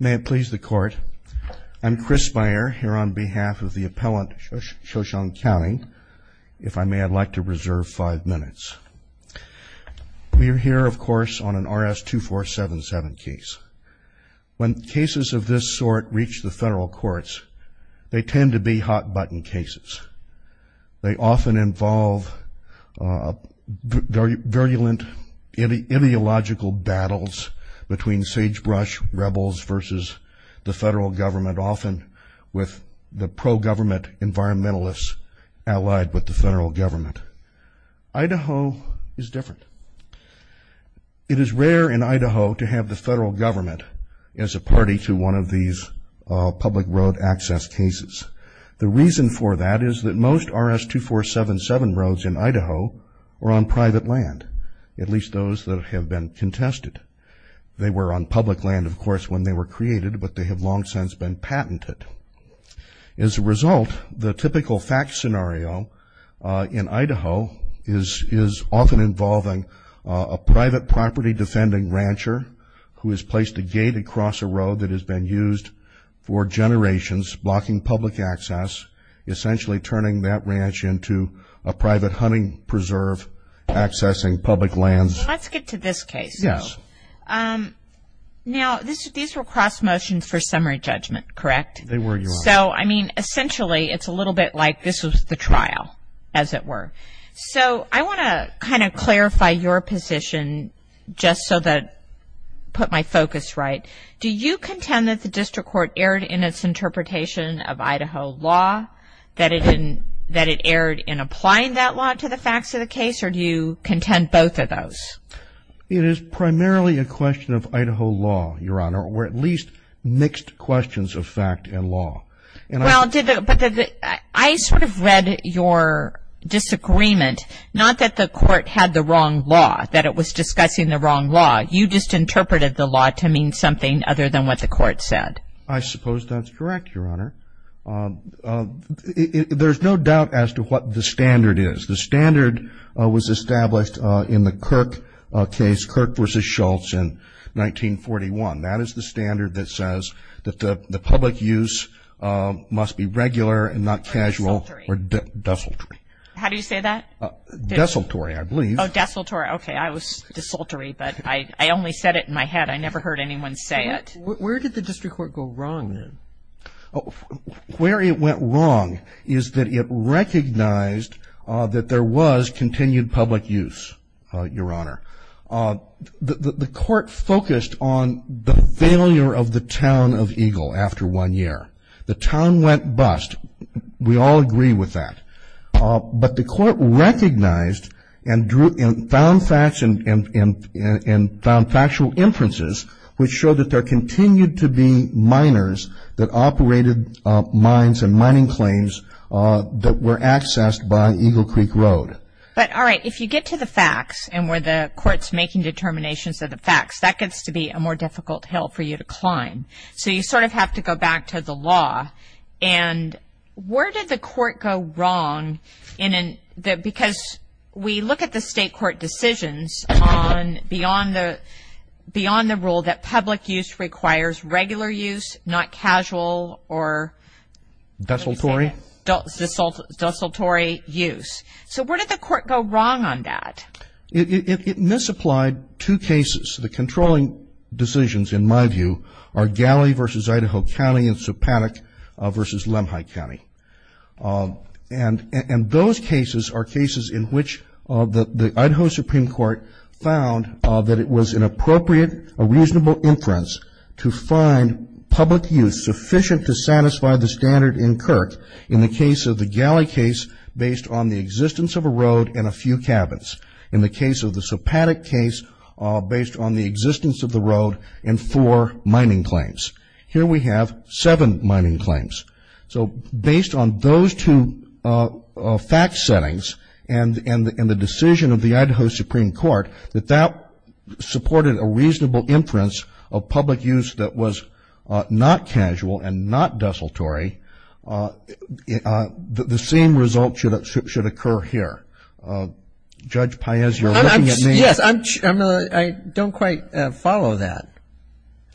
May it please the court, I'm Chris Speyer here on behalf of the appellant Shoshone County. If I may, I'd like to reserve five minutes. We are here, of course, on an RS-2477 case. When cases of this sort reach the federal courts, they tend to be hot-button cases. They often involve virulent ideological battles between sagebrush rebels versus the federal government, often with the pro-government environmentalists allied with the federal government. Idaho is different. It is rare in Idaho to have the federal government as a party to one of these public road access cases. The reason for that is that most RS-2477 roads in Idaho are on private land, at least those that have been contested. They were on public land, of course, when they were created, but they have long since been patented. As a result, the typical fact scenario in Idaho is often involving a private property defending rancher who has placed a gate across a road that has been used for generations, blocking public access, essentially turning that ranch into a private hunting preserve, accessing public lands. Let's get to this case, though. Yes. Now, these were cross motions for summary judgment, correct? They were, yes. So, I mean, essentially, it's a little bit like this was the trial, as it were. So, I want to kind of clarify your position just so that I put my focus right. Do you contend that the district court erred in its interpretation of Idaho law, that it erred in applying that law to the facts of the case, or do you contend both of those? It is primarily a question of Idaho law, Your Honor, or at least mixed questions of fact and law. I sort of read your disagreement, not that the court had the wrong law, that it was discussing the wrong law. You just interpreted the law to mean something other than what the court said. I suppose that's correct, Your Honor. There's no doubt as to what the standard is. The standard was established in the Kirk case, Kirk v. Schultz, in 1941. That is the standard that says that the public use must be regular and not casual or desultory. How do you say that? Desultory, I believe. Oh, desultory. Okay, I was desultory, but I only said it in my head. I never heard anyone say it. Where did the district court go wrong, then? Where it went wrong is that it recognized that there was continued public use, Your Honor. The court focused on the failure of the town of Eagle after one year. The town went bust. We all agree with that. But the court recognized and found factual inferences, which showed that there continued to be miners that operated mines and mining planes that were accessed by Eagle Creek Road. But, all right, if you get to the facts and where the court's making determinations of the facts, that gets to be a more difficult hill for you to climb. So you sort of have to go back to the law. And where did the court go wrong? Because we look at the state court decisions beyond the rule that public use requires regular use, not casual or desultory use. So where did the court go wrong on that? It misapplied two cases. The controlling decisions, in my view, are Galley v. Idaho County and Sopanic v. Lemhi County. And those cases are cases in which the Idaho Supreme Court found that it was an appropriate, a reasonable inference to find public use sufficient to satisfy the standard in Kirk in the case of the Galley case based on the existence of a road and a few cabins, in the case of the Sopanic case based on the existence of the road and four mining planes. Here we have seven mining planes. So based on those two fact settings and the decision of the Idaho Supreme Court that that supported a reasonable inference of public use that was not casual and not desultory, the same result should occur here. Judge Paez, you're looking at me. Yes. I don't quite follow that.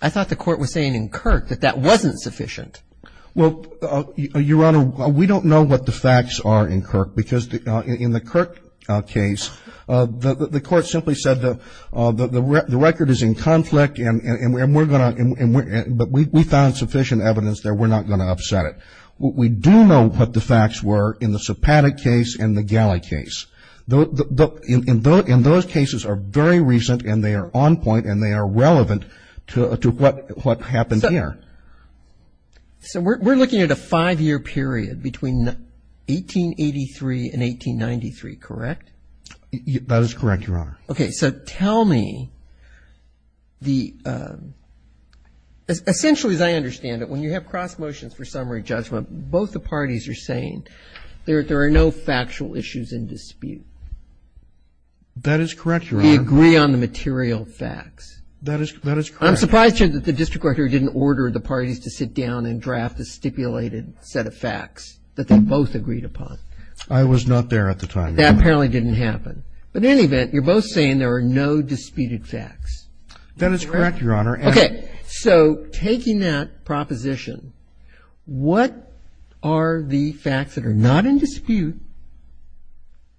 I thought the court was saying in Kirk that that wasn't sufficient. Well, Your Honor, we don't know what the facts are in Kirk because in the Kirk case, the court simply said the record is in conflict and we're going to, but we found sufficient evidence that we're not going to upset it. We do know what the facts were in the Sopanic case and the Galley case. And those cases are very recent and they are on point and they are relevant to what happened here. So we're looking at a five-year period between 1883 and 1893, correct? That is correct, Your Honor. Okay. So tell me the – essentially, as I understand it, when you have cross motions for summary judgment, both the parties are saying there are no factual issues in dispute. That is correct, Your Honor. We agree on the material facts. That is correct. I'm surprised, Judge, that the district court didn't order the parties to sit down and draft a stipulated set of facts that they both agreed upon. I was not there at the time. That apparently didn't happen. But in any event, you're both saying there are no disputed facts. That is correct, Your Honor. Okay. So taking that proposition, what are the facts that are not in dispute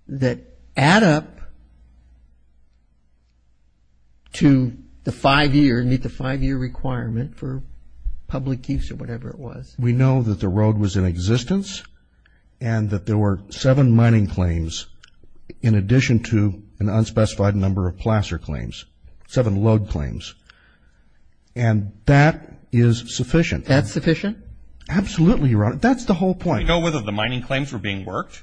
that add up to the five-year, meet the five-year requirement for public use or whatever it was? We know that the road was in existence and that there were seven mining claims in addition to an unspecified number of placer claims, seven load claims. And that is sufficient. That's sufficient? Absolutely, Your Honor. That's the whole point. Do you know whether the mining claims were being worked?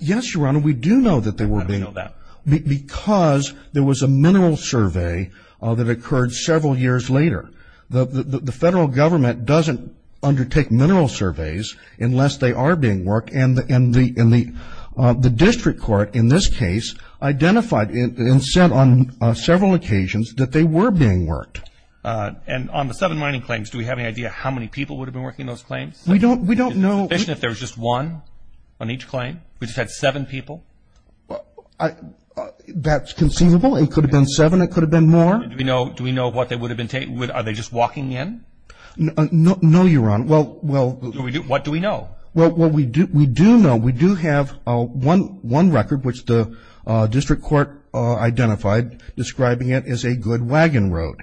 Yes, Your Honor. We do know that they were being worked. How do we know that? Because there was a mineral survey that occurred several years later. The federal government doesn't undertake mineral surveys unless they are being worked, and the district court in this case identified and said on several occasions that they were being worked. And on the seven mining claims, do we have any idea how many people would have been working those claims? We don't know. Is it sufficient if there was just one on each claim? We just had seven people? That's conceivable. It could have been seven. It could have been more. Do we know what they would have been taking? Are they just walking in? No, Your Honor. What do we know? What we do know, we do have one record, which the district court identified describing it as a good wagon road.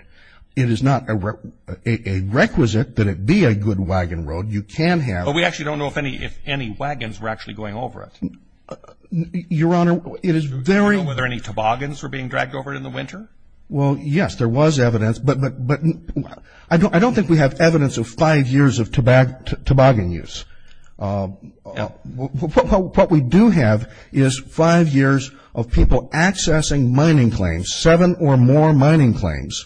It is not a requisite that it be a good wagon road. You can have one. But we actually don't know if any wagons were actually going over it. Your Honor, it is very – Do we know whether any toboggans were being dragged over it in the winter? Well, yes, there was evidence. But I don't think we have evidence of five years of toboggan use. What we do have is five years of people accessing mining claims, seven or more mining claims,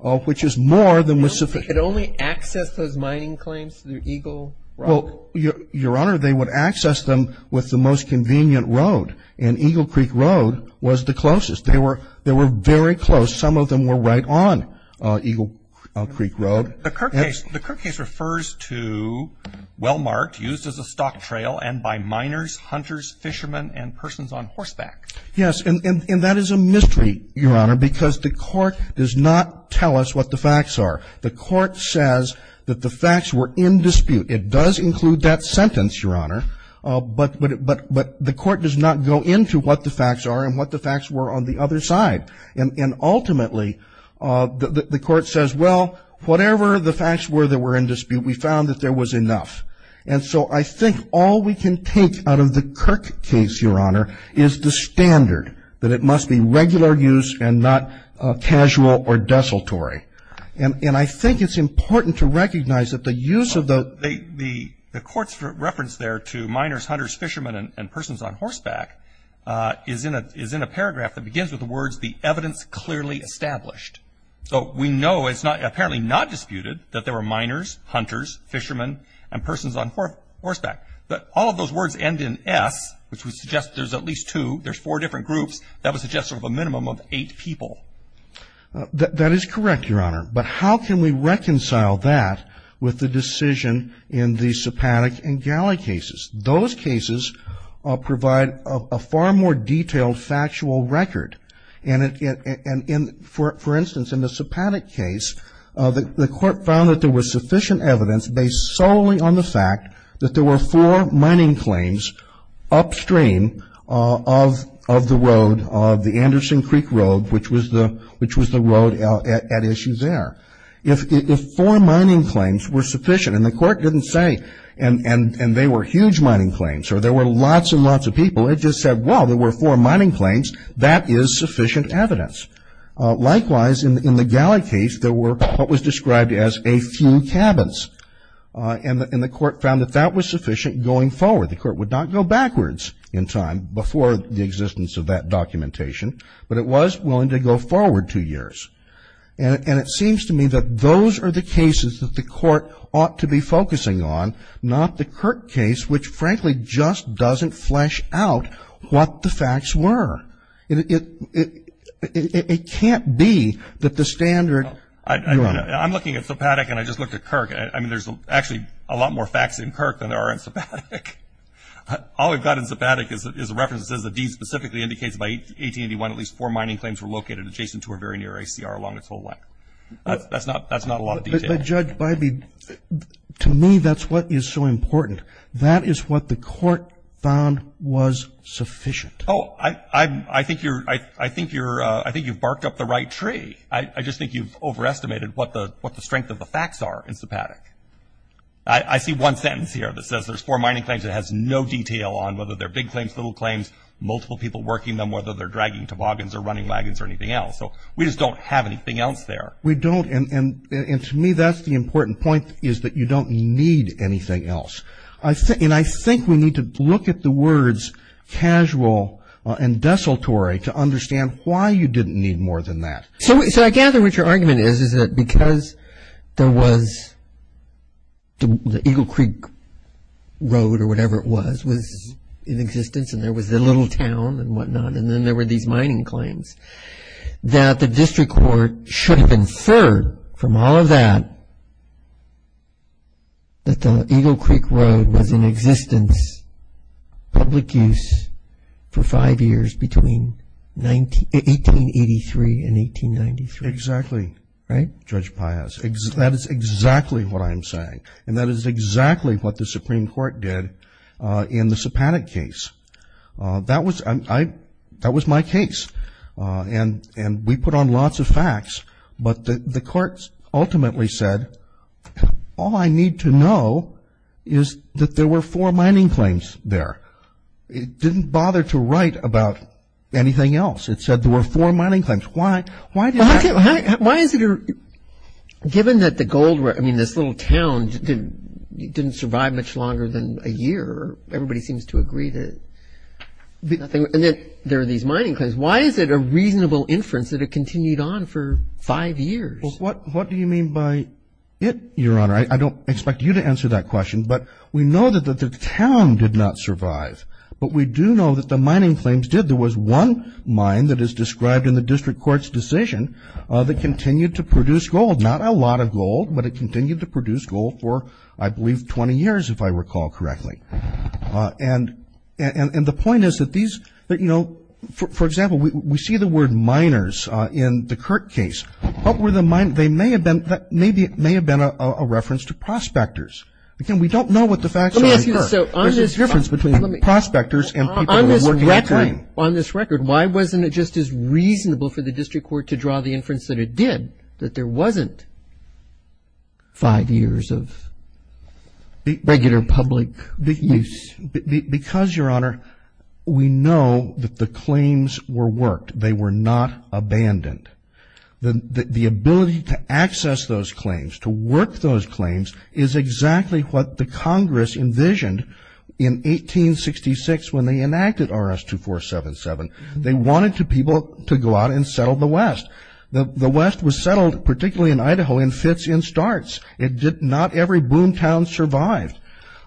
which is more than was sufficient. Could only access those mining claims through Eagle Road? Well, Your Honor, they would access them with the most convenient road, and Eagle Creek Road was the closest. They were very close. Some of them were right on Eagle Creek Road. The Kirk case refers to Wellmark used as a stock trail and by miners, hunters, fishermen, and persons on horseback. Yes, and that is a mystery, Your Honor, because the court does not tell us what the facts are. The court says that the facts were in dispute. It does include that sentence, Your Honor, but the court does not go into what the facts are and what the facts were on the other side. And ultimately, the court says, well, whatever the facts were that were in dispute, we found that there was enough. And so I think all we can take out of the Kirk case, Your Honor, is the standard that it must be regular use and not casual or desultory. And I think it's important to recognize that the use of the – to miners, hunters, fishermen, and persons on horseback is in a paragraph that begins with the words, the evidence clearly established. So we know it's apparently not disputed that there were miners, hunters, fishermen, and persons on horseback. But all of those words end in S, which would suggest there's at least two. There's four different groups. That would suggest sort of a minimum of eight people. That is correct, Your Honor. But how can we reconcile that with the decision in the Sipanik and Galley cases? Those cases provide a far more detailed factual record. And for instance, in the Sipanik case, the court found that there was sufficient evidence based solely on the fact that there were four mining claims upstream of the road, of the Anderson Creek Road, which was the road at issue there. If four mining claims were sufficient, and the court didn't say, and they were huge mining claims, or there were lots and lots of people, it just said, well, there were four mining claims. That is sufficient evidence. Likewise, in the Galley case, there were what was described as a few cabins. And the court found that that was sufficient going forward. The court would not go backwards in time before the existence of that documentation, but it was willing to go forward two years. And it seems to me that those are the cases that the court ought to be focusing on, not the Kirk case, which, frankly, just doesn't flesh out what the facts were. It can't be that the standard. I'm looking at Sipanik, and I just looked at Kirk. I mean, there's actually a lot more facts in Kirk than there are in Sipanik. All we've got in Sipanik is a reference that says the deed specifically indicates by 1881 at least four mining claims were located adjacent to or very near ACR along its whole length. That's not a lot of detail. But, Judge Bybee, to me, that's what is so important. That is what the court found was sufficient. Oh, I think you've barked up the right tree. I just think you've overestimated what the strength of the facts are in Sipanik. I see one sentence here that says there's four mining claims. It has no detail on whether they're big claims, little claims, multiple people working them, whether they're dragging toboggans or running wagons or anything else. So we just don't have anything else there. We don't, and to me, that's the important point is that you don't need anything else. And I think we need to look at the words casual and desultory to understand why you didn't need more than that. So I gather what your argument is is that because there was the Eagle Creek Road or whatever it was, was in existence, and there was the little town and whatnot, and then there were these mining claims, that the district court should have inferred from all of that that the Eagle Creek Road was in existence, public use, for five years between 1883 and 1893. Exactly, Judge Piaz. That is exactly what I'm saying, and that is exactly what the Supreme Court did in the Sipanik case. That was my case, and we put on lots of facts, but the court ultimately said all I need to know is that there were four mining claims there. It didn't bother to write about anything else. It said there were four mining claims. Why did that? Given that the gold, I mean, this little town didn't survive much longer than a year, everybody seems to agree that there are these mining claims, why is it a reasonable inference that it continued on for five years? What do you mean by it, Your Honor? I don't expect you to answer that question, but we know that the town did not survive, but we do know that the mining claims did. There was one mine that is described in the district court's decision that continued to produce gold, not a lot of gold, but it continued to produce gold for, I believe, 20 years, if I recall correctly. And the point is that these, you know, for example, we see the word miners in the Kirk case. What were the miners? They may have been, maybe it may have been a reference to prospectors. Again, we don't know what the facts are in Kirk. There's a difference between prospectors and people who were working at the mine. On this record, why wasn't it just as reasonable for the district court to draw the inference that it did, that there wasn't five years of regular public use? Because, Your Honor, we know that the claims were worked. They were not abandoned. The ability to access those claims, to work those claims, is exactly what the Congress envisioned in 1866 when they enacted RS-2477. They wanted people to go out and settle the West. The West was settled, particularly in Idaho, in fits and starts. Not every boom town survived.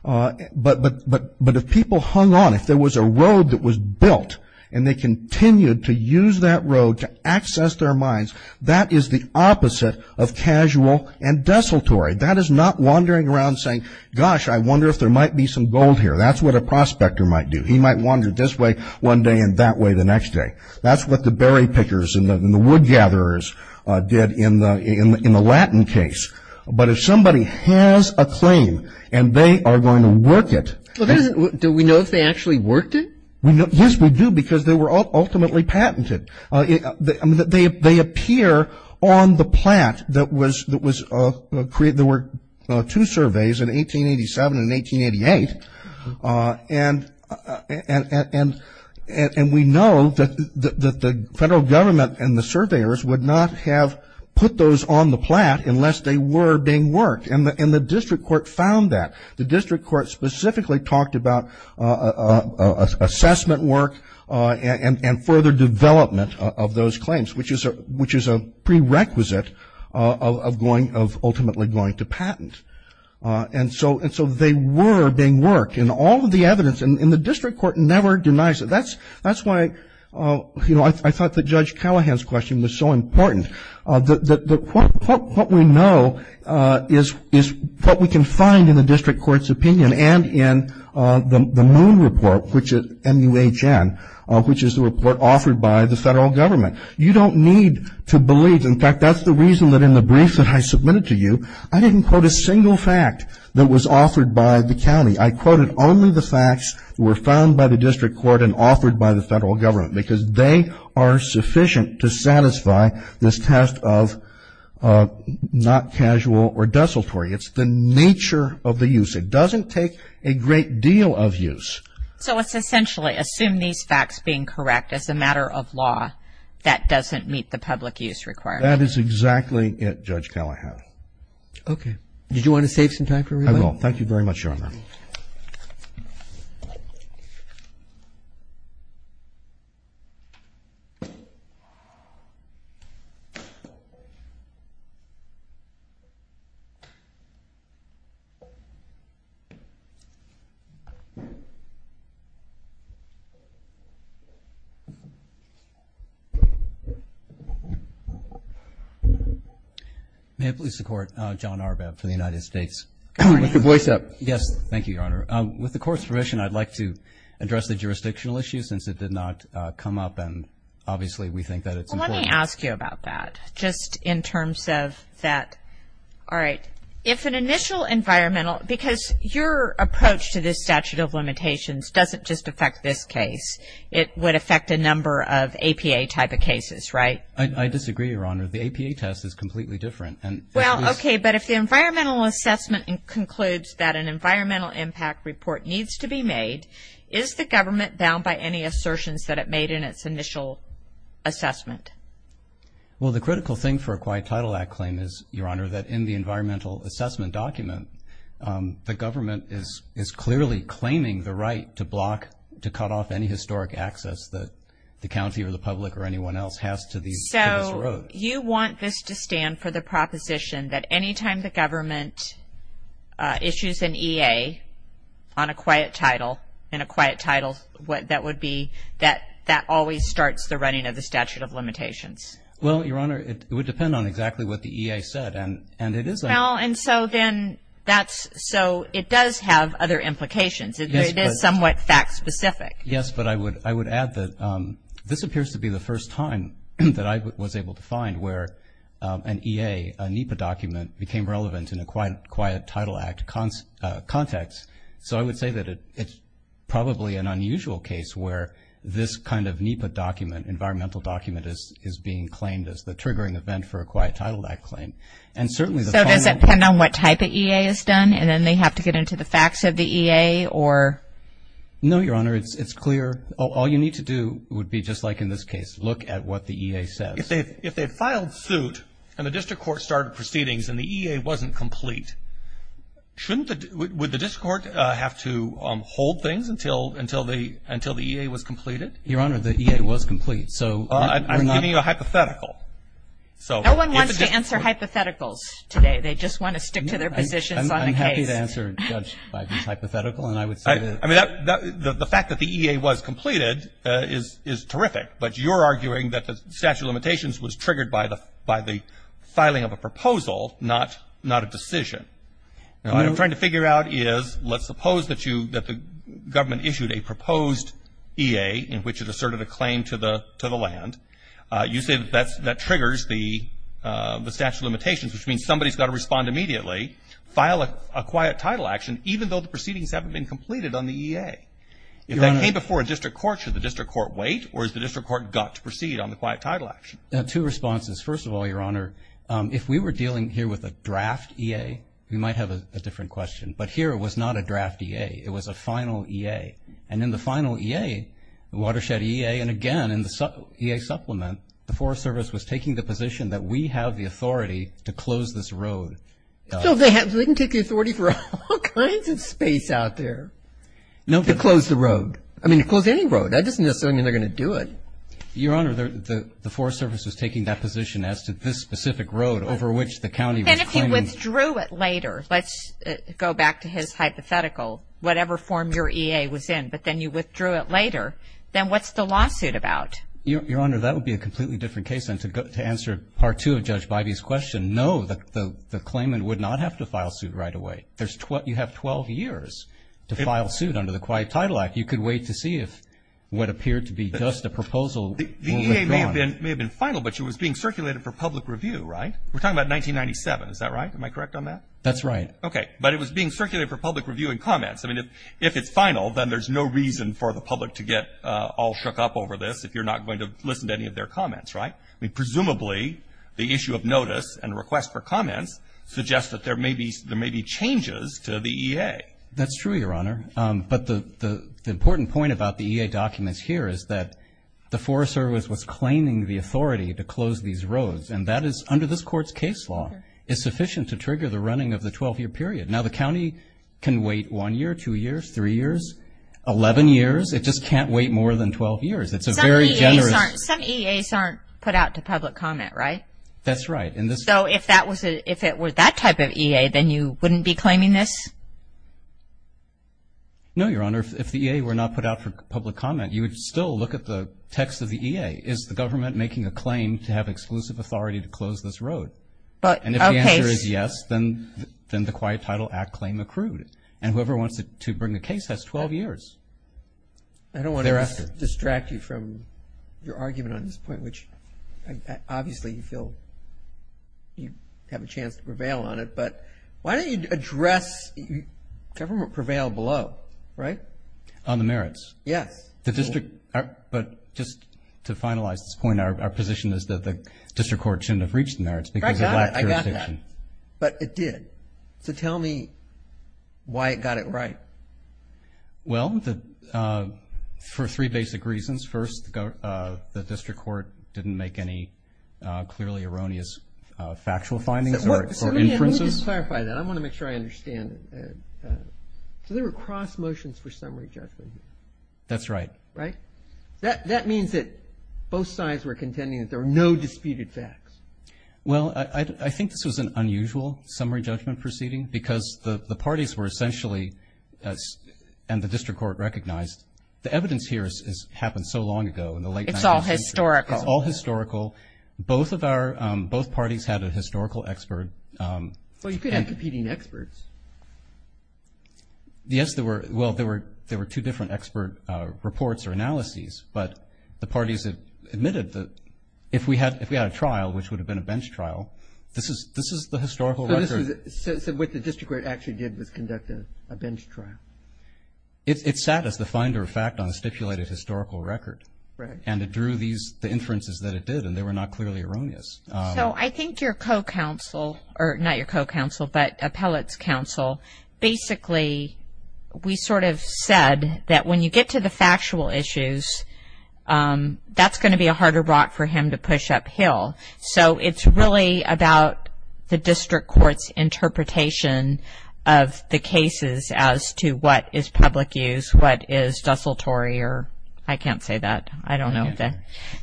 But if people hung on, if there was a road that was built and they continued to use that road to access their mines, that is the opposite of casual and desultory. That is not wandering around saying, gosh, I wonder if there might be some gold here. That's what a prospector might do. He might wander this way one day and that way the next day. That's what the berry pickers and the wood gatherers did in the Latin case. But if somebody has a claim and they are going to work it. Do we know if they actually worked it? Yes, we do, because they were ultimately patented. They appear on the plat that was created. There were two surveys in 1887 and 1888. And we know that the federal government and the surveyors would not have put those on the plat unless they were being worked. And the district court found that. The district court specifically talked about assessment work and further development of those claims, which is a prerequisite of ultimately going to patent. And so they were being worked. And all of the evidence, and the district court never denies it. That's why, you know, I thought that Judge Callahan's question was so important. What we know is what we can find in the district court's opinion and in the Moon Report, which is MUHN, which is the report offered by the federal government. You don't need to believe. In fact, that's the reason that in the brief that I submitted to you, I didn't quote a single fact that was offered by the county. I quoted only the facts that were found by the district court and offered by the federal government, because they are sufficient to satisfy this test of not casual or desultory. It's the nature of the use. It doesn't take a great deal of use. So it's essentially assume these facts being correct as a matter of law that doesn't meet the public use requirement. That is exactly it, Judge Callahan. Okay. Did you want to save some time for relay? I will. Thank you very much, Your Honor. Thank you. May I please support John Arbab for the United States? With your voice up. Yes. Thank you, Your Honor. With the Court's permission, I'd like to address the jurisdictional issue since it did not come up, and obviously we think that it's important. Well, let me ask you about that, just in terms of that. All right. If an initial environmental, because your approach to this statute of limitations doesn't just affect this case. It would affect a number of APA type of cases, right? I disagree, Your Honor. The APA test is completely different. Well, okay, but if the environmental assessment concludes that an environmental impact report needs to be made, is the government bound by any assertions that it made in its initial assessment? Well, the critical thing for a Quiet Title Act claim is, Your Honor, that in the environmental assessment document, the government is clearly claiming the right to block, to cut off any historic access that the county or the public or anyone else has to this road. So you want this to stand for the proposition that any time the government issues an EA on a quiet title, in a quiet title, that would be that that always starts the running of the statute of limitations. Well, Your Honor, it would depend on exactly what the EA said, and it is a – Well, and so then that's – so it does have other implications. It is somewhat fact specific. Yes, but I would add that this appears to be the first time that I was able to find where an EA, a NEPA document, became relevant in a Quiet Title Act context. So I would say that it's probably an unusual case where this kind of NEPA document, environmental document, is being claimed as the triggering event for a Quiet Title Act claim. And certainly the final – So does it depend on what type of EA is done, and then they have to get into the facts of the EA or – No, Your Honor, it's clear. All you need to do would be, just like in this case, look at what the EA says. If they filed suit and the district court started proceedings and the EA wasn't complete, shouldn't the – would the district court have to hold things until the EA was completed? Your Honor, the EA was complete, so we're not – I'm giving you a hypothetical. No one wants to answer hypotheticals today. They just want to stick to their positions on the case. I'm happy to answer Judge Biden's hypothetical, and I would say that – I mean, the fact that the EA was completed is terrific, but you're arguing that the statute of limitations was triggered by the filing of a proposal, not a decision. Now, what I'm trying to figure out is, let's suppose that you – that the government issued a proposed EA in which it asserted a claim to the land. You say that that triggers the statute of limitations, which means somebody's got to respond immediately, file a quiet title action, If that came before a district court, should the district court wait, or has the district court got to proceed on the quiet title action? Two responses. First of all, Your Honor, if we were dealing here with a draft EA, we might have a different question, but here it was not a draft EA. It was a final EA, and in the final EA, the watershed EA, and again in the EA supplement, the Forest Service was taking the position that we have the authority to close this road. So they can take the authority for all kinds of space out there. To close the road. I mean, to close any road. That doesn't necessarily mean they're going to do it. Your Honor, the Forest Service was taking that position as to this specific road over which the county was claiming. Then if you withdrew it later, let's go back to his hypothetical, whatever form your EA was in, but then you withdrew it later, then what's the lawsuit about? Your Honor, that would be a completely different case. And to answer Part 2 of Judge Bivey's question, no, the claimant would not have to file suit right away. You have 12 years to file suit under the Quiet Title Act. You could wait to see if what appeared to be just a proposal will live on. The EA may have been final, but it was being circulated for public review, right? We're talking about 1997. Is that right? Am I correct on that? That's right. Okay. But it was being circulated for public review and comments. I mean, if it's final, then there's no reason for the public to get all shook up over this if you're not going to listen to any of their comments, right? I mean, presumably, the issue of notice and request for comments suggests that there may be changes to the EA. That's true, Your Honor. But the important point about the EA documents here is that the Forest Service was claiming the authority to close these roads, and that is, under this Court's case law, is sufficient to trigger the running of the 12-year period. Now, the county can wait one year, two years, three years, 11 years. It just can't wait more than 12 years. Some EAs aren't put out to public comment, right? That's right. So if it were that type of EA, then you wouldn't be claiming this? No, Your Honor. If the EA were not put out for public comment, you would still look at the text of the EA. Is the government making a claim to have exclusive authority to close this road? And if the answer is yes, then the Quiet Title Act claim accrued. And whoever wants to bring a case has 12 years. I don't want to distract you from your argument on this point, which obviously you feel you have a chance to prevail on it. But why don't you address government prevailed below, right? On the merits. Yes. The district, but just to finalize this point, our position is that the district court shouldn't have reached the merits because it lacked jurisdiction. I got that. But it did. So tell me why it got it right. Well, for three basic reasons. First, the district court didn't make any clearly erroneous factual findings or inferences. Let me just clarify that. I want to make sure I understand it. So there were cross motions for summary judgment. That's right. Right? That means that both sides were contending that there were no disputed facts. Well, I think this was an unusual summary judgment proceeding because the parties were essentially, and the district court recognized, the evidence here happened so long ago in the late 19th century. It's all historical. It's all historical. Both parties had a historical expert. Well, you could have competing experts. Yes. Well, there were two different expert reports or analyses. But the parties admitted that if we had a trial, which would have been a bench trial, this is the historical record. So what the district court actually did was conduct a bench trial. It sat as the finder of fact on a stipulated historical record. Right. And it drew the inferences that it did, and they were not clearly erroneous. So I think your co-counsel, or not your co-counsel, but Appellate's counsel, basically we sort of said that when you get to the factual issues, that's going to be a harder rock for him to push uphill. So it's really about the district court's interpretation of the cases as to what is public use, what is desultory, or I can't say that. I don't know.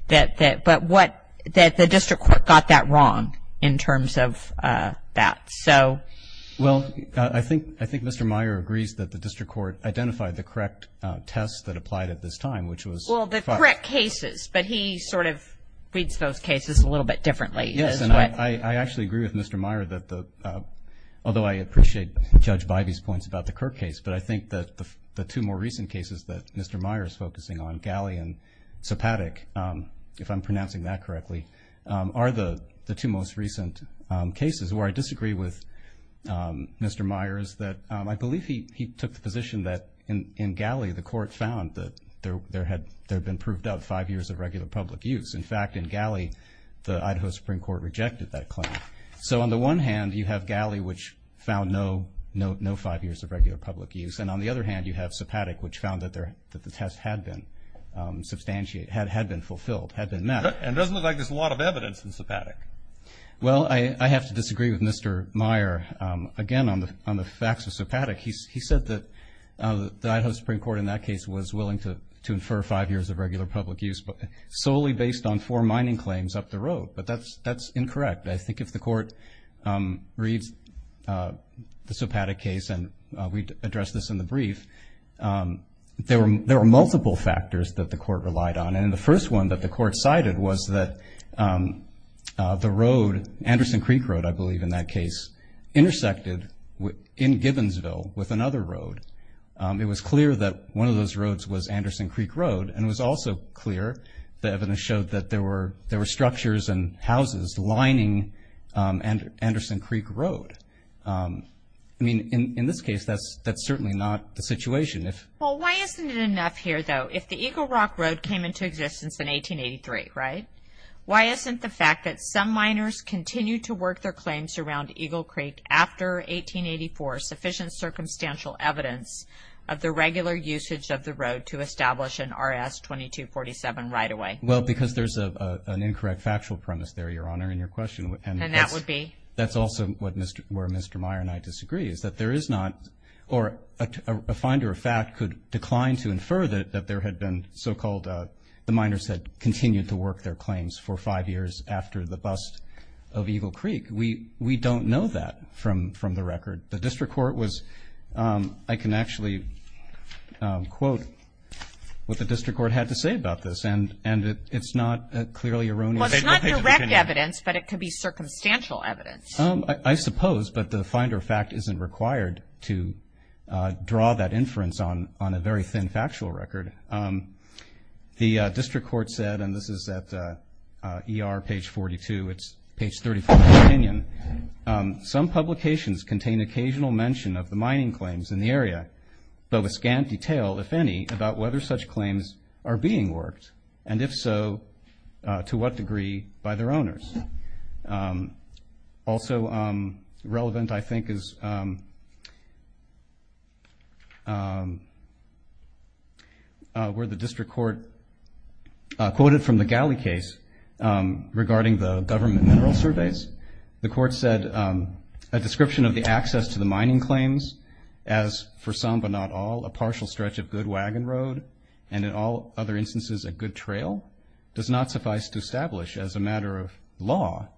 But the district court got that wrong in terms of that. Well, I think Mr. Meyer agrees that the district court identified the correct tests that applied at this time. Well, the correct cases. But he sort of reads those cases a little bit differently. Yes, and I actually agree with Mr. Meyer that the ‑‑ although I appreciate Judge Bivey's points about the Kirk case, but I think that the two more recent cases that Mr. Meyer is focusing on, Galley and Sopatic, if I'm pronouncing that correctly, are the two most recent cases. Where I disagree with Mr. Meyer is that I believe he took the position that in Galley, the court found that there had been proved up five years of regular public use. In fact, in Galley, the Idaho Supreme Court rejected that claim. So on the one hand, you have Galley, which found no five years of regular public use, and on the other hand, you have Sopatic, which found that the test had been fulfilled, had been met. And it doesn't look like there's a lot of evidence in Sopatic. Well, I have to disagree with Mr. Meyer. Again, on the facts of Sopatic, he said that the Idaho Supreme Court in that case was willing to infer five years of regular public use, but solely based on four mining claims up the road. But that's incorrect. I think if the court reads the Sopatic case, and we addressed this in the brief, there were multiple factors that the court relied on. And the first one that the court cited was that the road, Anderson Creek Road, I believe, in that case, intersected in Gibbonsville with another road. It was clear that one of those roads was Anderson Creek Road, and it was also clear, the evidence showed that there were structures and houses lining Anderson Creek Road. I mean, in this case, that's certainly not the situation. Well, why isn't it enough here, though, if the Eagle Rock Road came into existence in 1883, right? Why isn't the fact that some miners continued to work their claims around Eagle Creek after 1884 sufficient circumstantial evidence of the regular usage of the road to establish an RS-2247 right away? Well, because there's an incorrect factual premise there, Your Honor, in your question. And that would be? That's also where Mr. Meyer and I disagree, is that there is not, or a finder of fact could decline to infer that there had been so-called, that the miners had continued to work their claims for five years after the bust of Eagle Creek. We don't know that from the record. The district court was, I can actually quote what the district court had to say about this, and it's not clearly erroneous. Well, it's not direct evidence, but it could be circumstantial evidence. I suppose, but the finder of fact isn't required to draw that inference on a very thin factual record. The district court said, and this is at ER page 42, it's page 34 of the opinion, some publications contain occasional mention of the mining claims in the area, though a scant detail, if any, about whether such claims are being worked, and if so, to what degree by their owners. Also relevant, I think, is where the district court quoted from the Galley case regarding the government mineral surveys. The court said, a description of the access to the mining claims as, for some but not all, a partial stretch of good wagon road, and in all other instances a good trail, does not suffice to establish as a matter of law,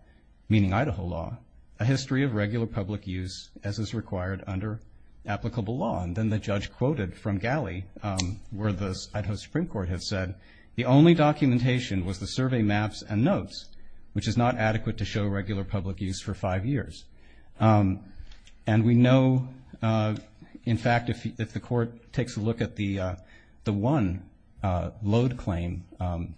meaning Idaho law, a history of regular public use as is required under applicable law. And then the judge quoted from Galley where the Idaho Supreme Court had said, the only documentation was the survey maps and notes, which is not adequate to show regular public use for five years. And we know, in fact, if the court takes a look at the one load claim,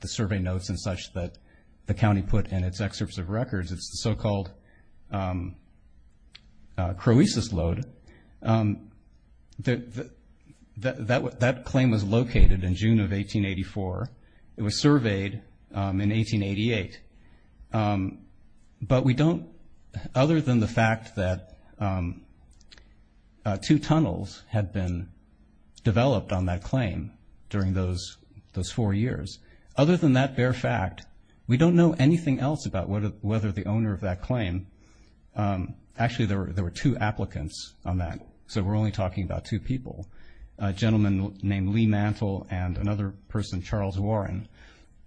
the survey notes and such that the county put in its excerpts of records, it's the so-called Croesus load. That claim was located in June of 1884. It was surveyed in 1888. But we don't, other than the fact that two tunnels had been developed on that claim during those four years, other than that bare fact, we don't know anything else about whether the owner of that claim, actually there were two applicants on that, so we're only talking about two people, a gentleman named Lee Mantle and another person, Charles Warren.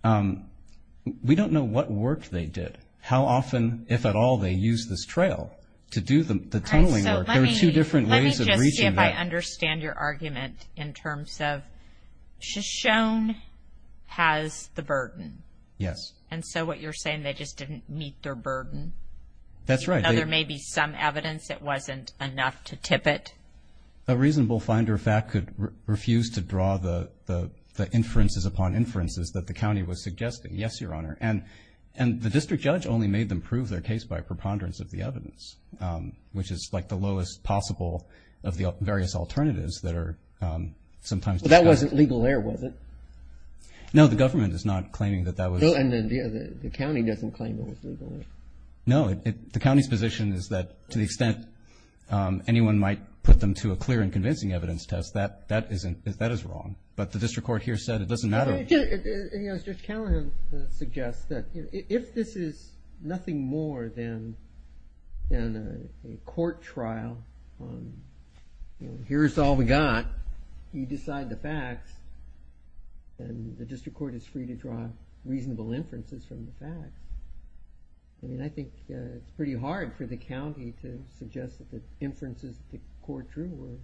We don't know what work they did, how often, if at all, they used this trail to do the tunneling work. There were two different ways of reaching that. Let me just see if I understand your argument in terms of Shoshone has the burden. Yes. And so what you're saying, they just didn't meet their burden. That's right. There may be some evidence it wasn't enough to tip it. A reasonable finder of fact could refuse to draw the inferences upon inferences that the county was suggesting. Yes, Your Honor. And the district judge only made them prove their case by preponderance of the evidence, which is like the lowest possible of the various alternatives that are sometimes discussed. But that wasn't legal there, was it? No, the government is not claiming that that was. No, and the county doesn't claim it was legal there. No, the county's position is that to the extent anyone might put them to a clear and convincing evidence test, that is wrong. But the district court here said it doesn't matter. Judge Callahan suggests that if this is nothing more than a court trial, here's all we got, you decide the facts and the district court is free to draw reasonable inferences from the facts. I mean, I think it's pretty hard for the county to suggest that the inferences the court drew were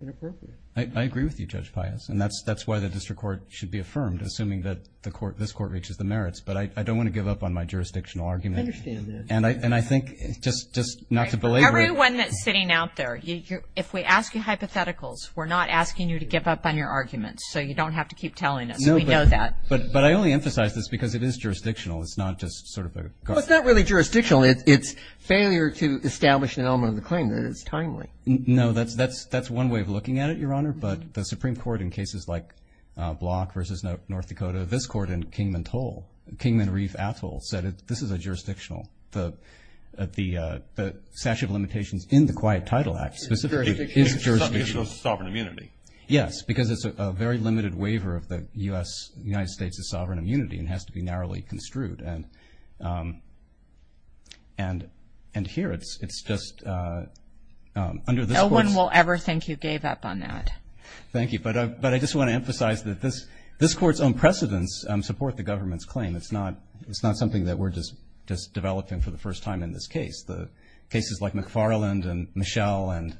inappropriate. I agree with you, Judge Pius, and that's why the district court should be affirmed, assuming that this court reaches the merits. But I don't want to give up on my jurisdictional argument. I understand that. And I think just not to belabor it. You're the only one that's sitting out there. If we ask you hypotheticals, we're not asking you to give up on your arguments, so you don't have to keep telling us. We know that. But I only emphasize this because it is jurisdictional. It's not just sort of a – Well, it's not really jurisdictional. It's failure to establish an element of the claim. It's timely. No, that's one way of looking at it, Your Honor. But the Supreme Court in cases like Block v. North Dakota, this court in Kingman-Toll, Kingman-Reef-Atoll, said this is jurisdictional. The statute of limitations in the Quiet Title Act specifically is jurisdictional. Because it's a sovereign immunity. Yes, because it's a very limited waiver of the U.S. and the United States' sovereign immunity and has to be narrowly construed. And here it's just under this court's – No one will ever think you gave up on that. Thank you. But I just want to emphasize that this court's own precedents support the government's claim. It's not something that we're just developing for the first time in this case. The cases like McFarland and Michel and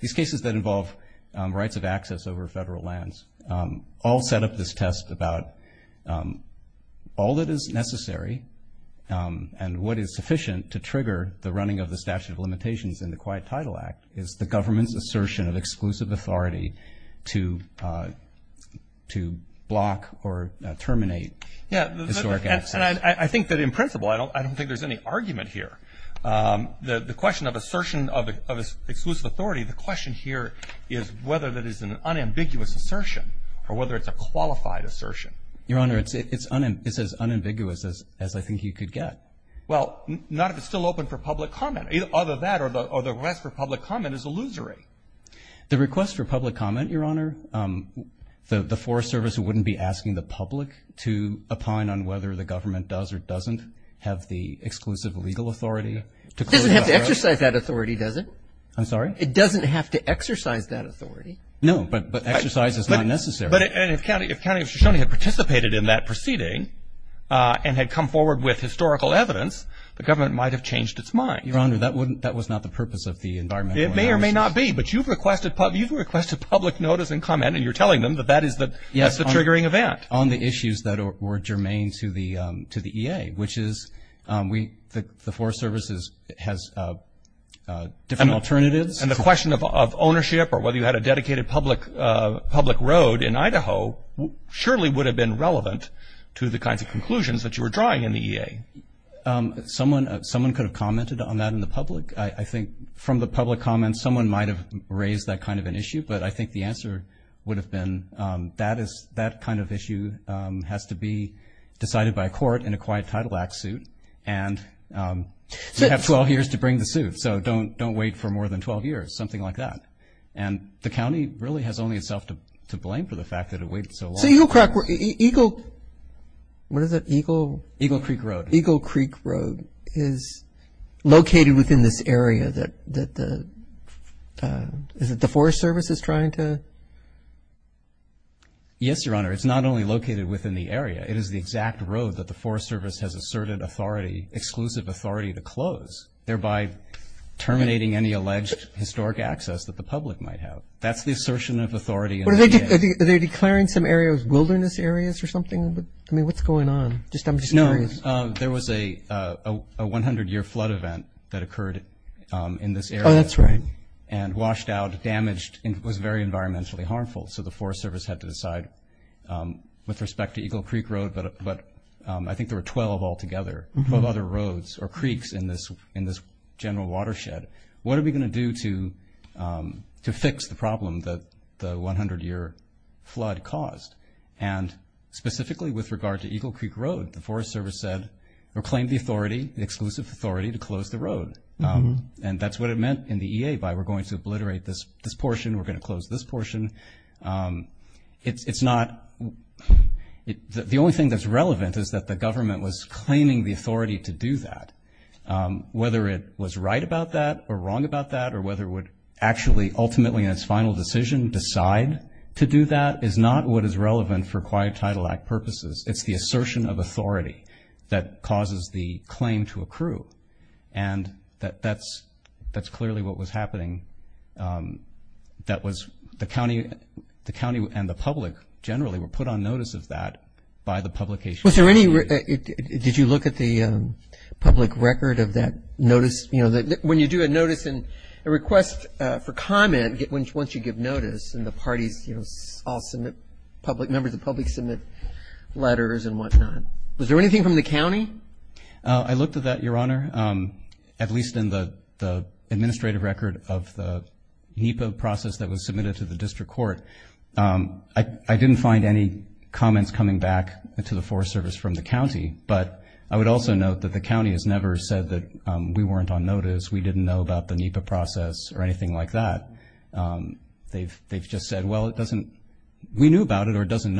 these cases that involve rights of access over federal lands all set up this test about all that is necessary and what is sufficient to trigger the running of the statute of limitations in the Quiet Title Act is the government's assertion of exclusive authority to block or terminate. Yeah. And I think that in principle I don't think there's any argument here. The question of assertion of exclusive authority, the question here is whether that is an unambiguous assertion or whether it's a qualified assertion. Your Honor, it's as unambiguous as I think you could get. Well, not if it's still open for public comment. Either that or the request for public comment is illusory. The request for public comment, Your Honor, the Forest Service wouldn't be asking the public to opine on whether the government does or doesn't have the exclusive legal authority to close the borough? It doesn't have to exercise that authority, does it? I'm sorry? It doesn't have to exercise that authority. No, but exercise is not necessary. But if County of Shoshone had participated in that proceeding and had come forward with historical evidence, the government might have changed its mind. Your Honor, that was not the purpose of the environmental analysis. It may or may not be, but you've requested public notice and comment, and you're telling them that that is the triggering event. Yes, on the issues that were germane to the EA, which is the Forest Service has different alternatives. And the question of ownership or whether you had a dedicated public road in Idaho surely would have been relevant to the kinds of conclusions that you were drawing in the EA. Someone could have commented on that in the public. I think from the public comments, someone might have raised that kind of an issue, but I think the answer would have been that kind of issue has to be decided by a court in a quiet title act suit, and you have 12 years to bring the suit, so don't wait for more than 12 years, something like that. And the county really has only itself to blame for the fact that it waited so long. So Eagle Crack Road, Eagle, what is it, Eagle? Eagle Creek Road. Eagle Creek Road is located within this area that the Forest Service is trying to? Yes, Your Honor. It's not only located within the area. It is the exact road that the Forest Service has asserted authority, exclusive authority to close, thereby terminating any alleged historic access that the public might have. That's the assertion of authority in the EA. Are they declaring some areas wilderness areas or something? I mean, what's going on? No, there was a 100-year flood event that occurred in this area. Oh, that's right. And washed out, damaged, and was very environmentally harmful, so the Forest Service had to decide with respect to Eagle Creek Road, but I think there were 12 altogether of other roads or creeks in this general watershed. What are we going to do to fix the problem that the 100-year flood caused? And specifically with regard to Eagle Creek Road, the Forest Service claimed the authority, the exclusive authority to close the road, and that's what it meant in the EA by we're going to obliterate this portion, we're going to close this portion. The only thing that's relevant is that the government was claiming the authority to do that. Whether it was right about that or wrong about that or whether it would actually ultimately in its final decision decide to do that is not what is relevant for Quiet Title Act purposes. It's the assertion of authority that causes the claim to accrue, and that's clearly what was happening. That was the county and the public generally were put on notice of that by the publication. Did you look at the public record of that notice? When you do a notice and a request for comment once you give notice and the parties all submit, members of the public submit letters and whatnot, was there anything from the county? I looked at that, Your Honor, at least in the administrative record of the NEPA process that was submitted to the district court. I didn't find any comments coming back to the Forest Service from the county, but I would also note that the county has never said that we weren't on notice, we didn't know about the NEPA process or anything like that. They've just said, well, we knew about it or it doesn't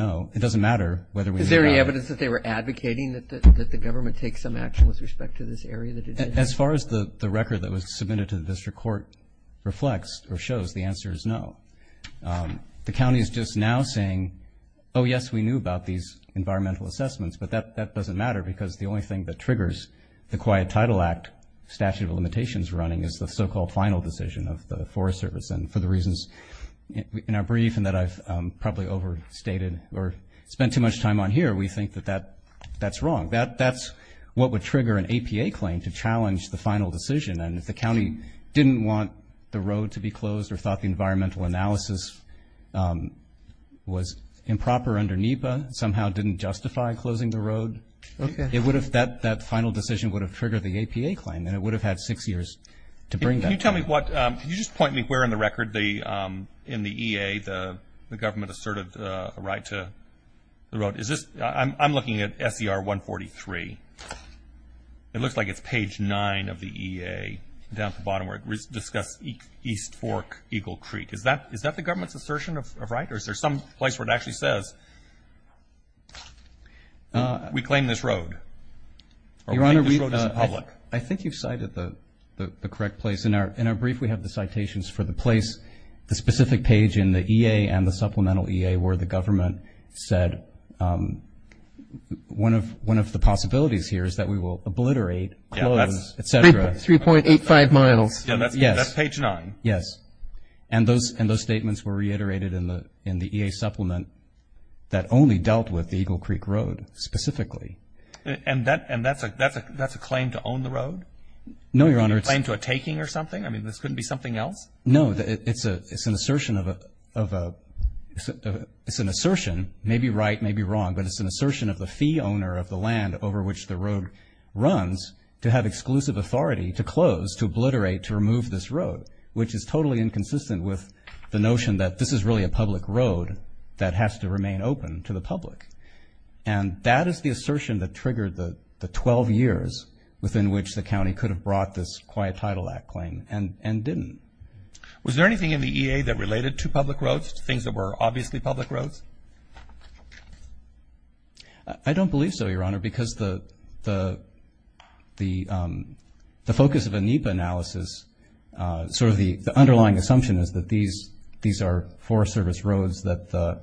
matter whether we knew about it. Is there any evidence that they were advocating that the government take some action with respect to this area that it did? As far as the record that was submitted to the district court reflects or shows, the answer is no. The county is just now saying, oh, yes, we knew about these environmental assessments, but that doesn't matter because the only thing that triggers the Quiet Title Act statute of limitations running is the so-called final decision of the Forest Service, and for the reasons in our brief and that I've probably overstated or spent too much time on here, we think that that's wrong. That's what would trigger an APA claim to challenge the final decision, and if the county didn't want the road to be closed or thought the environmental analysis was improper under NEPA, somehow didn't justify closing the road, that final decision would have triggered the APA claim and it would have had six years to bring that. Can you tell me what, can you just point me where in the record in the EA the government asserted a right to the road? Is this, I'm looking at SER 143. It looks like it's page 9 of the EA down at the bottom where it discusses East Fork Eagle Creek. Is that the government's assertion of right or is there some place where it actually says we claim this road or we claim this road as public? I think you've cited the correct place. In our brief we have the citations for the place, the specific page in the EA and the supplemental EA where the government said one of the possibilities here is that we will obliterate, close, et cetera. 3.85 miles. That's page 9. Yes. And those statements were reiterated in the EA supplement that only dealt with the Eagle Creek Road specifically. And that's a claim to own the road? No, Your Honor. A claim to a taking or something? I mean, this couldn't be something else? No, it's an assertion of a, it's an assertion, maybe right, maybe wrong, but it's an assertion of the fee owner of the land over which the road runs to have exclusive authority to close, to obliterate, to remove this road, which is totally inconsistent with the notion that this is really a public road that has to remain open to the public. And that is the assertion that triggered the 12 years within which the county could have brought this Quiet Title Act claim and didn't. Was there anything in the EA that related to public roads, things that were obviously public roads? I don't believe so, Your Honor, because the focus of a NEPA analysis, sort of the underlying assumption is that these are Forest Service roads that the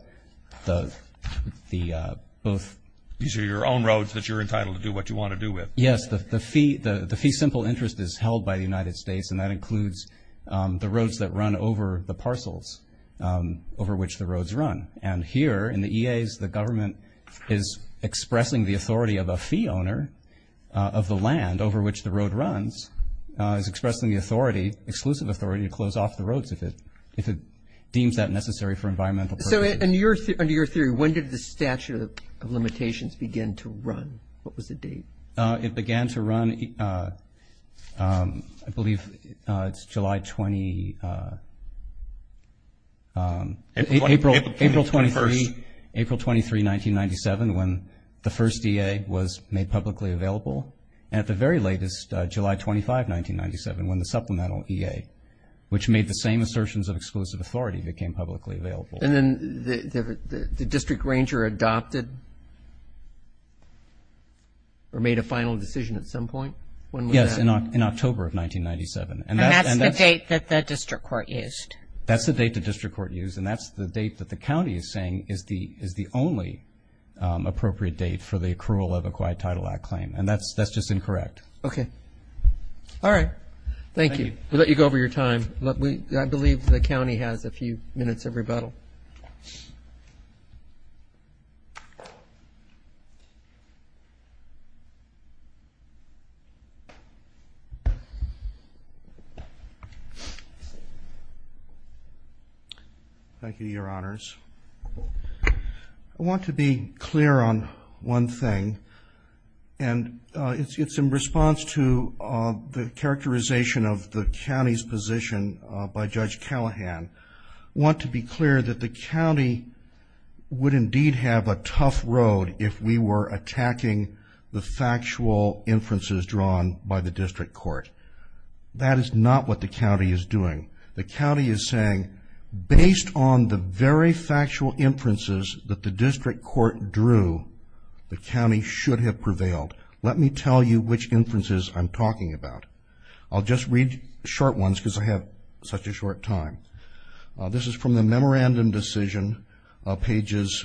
both. These are your own roads that you're entitled to do what you want to do with? Yes, the fee simple interest is held by the United States, and that includes the roads that run over the parcels over which the roads run. And here in the EAs, the government is expressing the authority of a fee owner of the land over which the road runs, is expressing the authority, exclusive authority to close off the roads if it deems that necessary for environmental purposes. So under your theory, when did the statute of limitations begin to run? What was the date? It began to run, I believe it's July 20, April 23, 1997, when the first EA was made publicly available, and at the very latest, July 25, 1997, when the supplemental EA, which made the same assertions of exclusive authority, became publicly available. And then the district ranger adopted or made a final decision at some point? Yes, in October of 1997. And that's the date that the district court used. That's the date the district court used, and that's the date that the county is saying is the only appropriate date for the accrual of the Acquired Title Act claim, and that's just incorrect. Okay. All right. Thank you. We'll let you go over your time. I believe the county has a few minutes of rebuttal. Thank you, Your Honors. I want to be clear on one thing, and it's in response to the characterization of the county's position by Judge Callahan. I want to be clear that the county would indeed have a tough road if we were attacking the factual inferences drawn by the district court. That is not what the county is doing. The county is saying, based on the very factual inferences that the district court drew, the county should have prevailed. Let me tell you which inferences I'm talking about. I'll just read short ones because I have such a short time. This is from the Memorandum Decision, Pages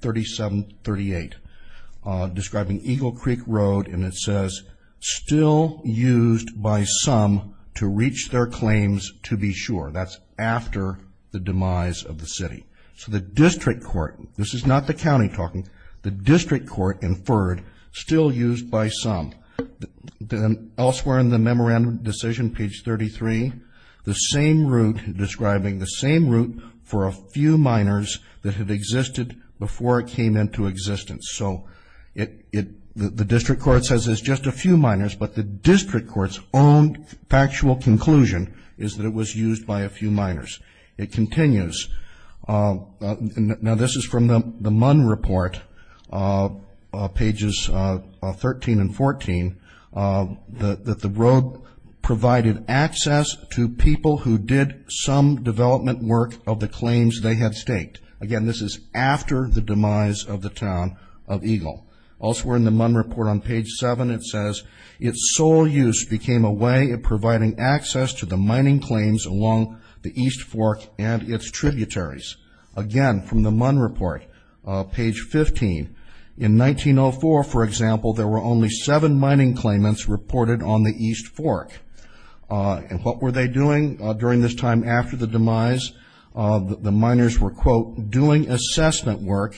37-38, describing Eagle Creek Road, and it says, still used by some to reach their claims to be sure. That's after the demise of the city. So the district court, this is not the county talking, the district court inferred still used by some. Elsewhere in the Memorandum Decision, Page 33, the same route describing the same route for a few minors that had existed before it came into existence. So the district court says it's just a few minors, but the district court's own factual conclusion is that it was used by a few minors. It continues. Now, this is from the Munn Report, Pages 13 and 14, that the road provided access to people who did some development work of the claims they had staked. Again, this is after the demise of the town of Eagle. Elsewhere in the Munn Report on Page 7, it says, its sole use became a way of providing access to the mining claims along the East Fork and its tributaries. Again, from the Munn Report, Page 15, in 1904, for example, there were only seven mining claimants reported on the East Fork. And what were they doing during this time after the demise? The miners were, quote, doing assessment work,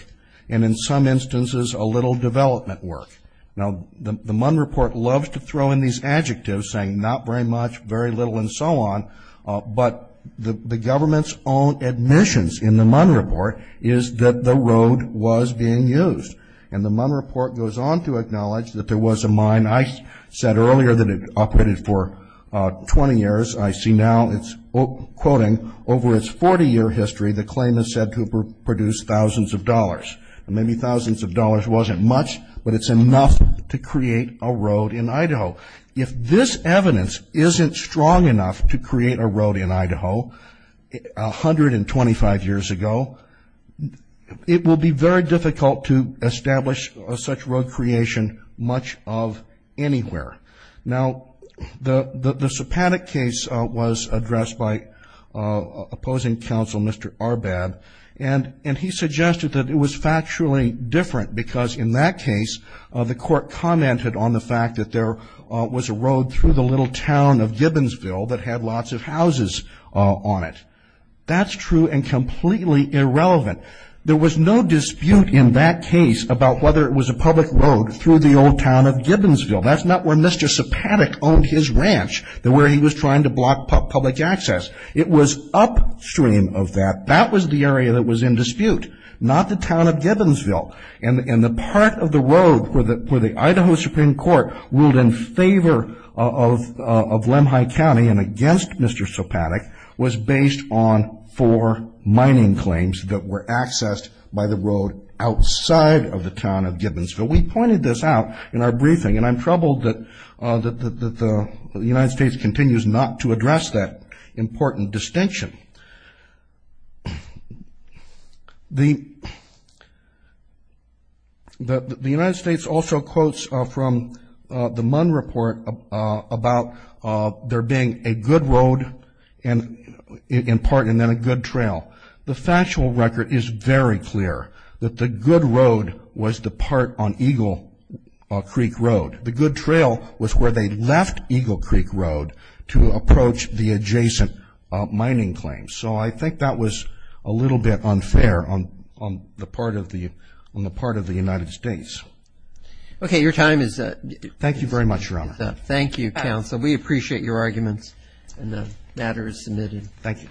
and in some instances, a little development work. Now, the Munn Report loves to throw in these adjectives, saying not very much, very little, and so on, but the government's own admissions in the Munn Report is that the road was being used. And the Munn Report goes on to acknowledge that there was a mine. I said earlier that it operated for 20 years. I see now, it's quoting, over its 40-year history, the claim is said to have produced thousands of dollars. And maybe thousands of dollars wasn't much, but it's enough to create a road in Idaho. If this evidence isn't strong enough to create a road in Idaho 125 years ago, it will be very difficult to establish such road creation much of anywhere. Now, the Sepadic case was addressed by opposing counsel, Mr. Arbad, and he suggested that it was factually different because in that case, the court commented on the fact that there was a road through the little town of Gibbonsville that had lots of houses on it. That's true and completely irrelevant. There was no dispute in that case about whether it was a public road through the old town of Gibbonsville. That's not where Mr. Sepadic owned his ranch, where he was trying to block public access. It was upstream of that. That was the area that was in dispute, not the town of Gibbonsville. And the part of the road where the Idaho Supreme Court ruled in favor of Lemhi County and against Mr. Sepadic was based on four mining claims that were accessed by the road outside of the town of Gibbonsville. We pointed this out in our briefing, and I'm troubled that the United States continues not to address that important distinction. The United States also quotes from the Munn Report about there being a good road in part and then a good trail. The factual record is very clear that the good road was the part on Eagle Creek Road. The good trail was where they left Eagle Creek Road to approach the adjacent mining claims. So I think that was a little bit unfair on the part of the United States. Okay, your time is up. Thank you very much, Your Honor. Thank you, counsel. We appreciate your arguments and the matter is submitted. Thank you.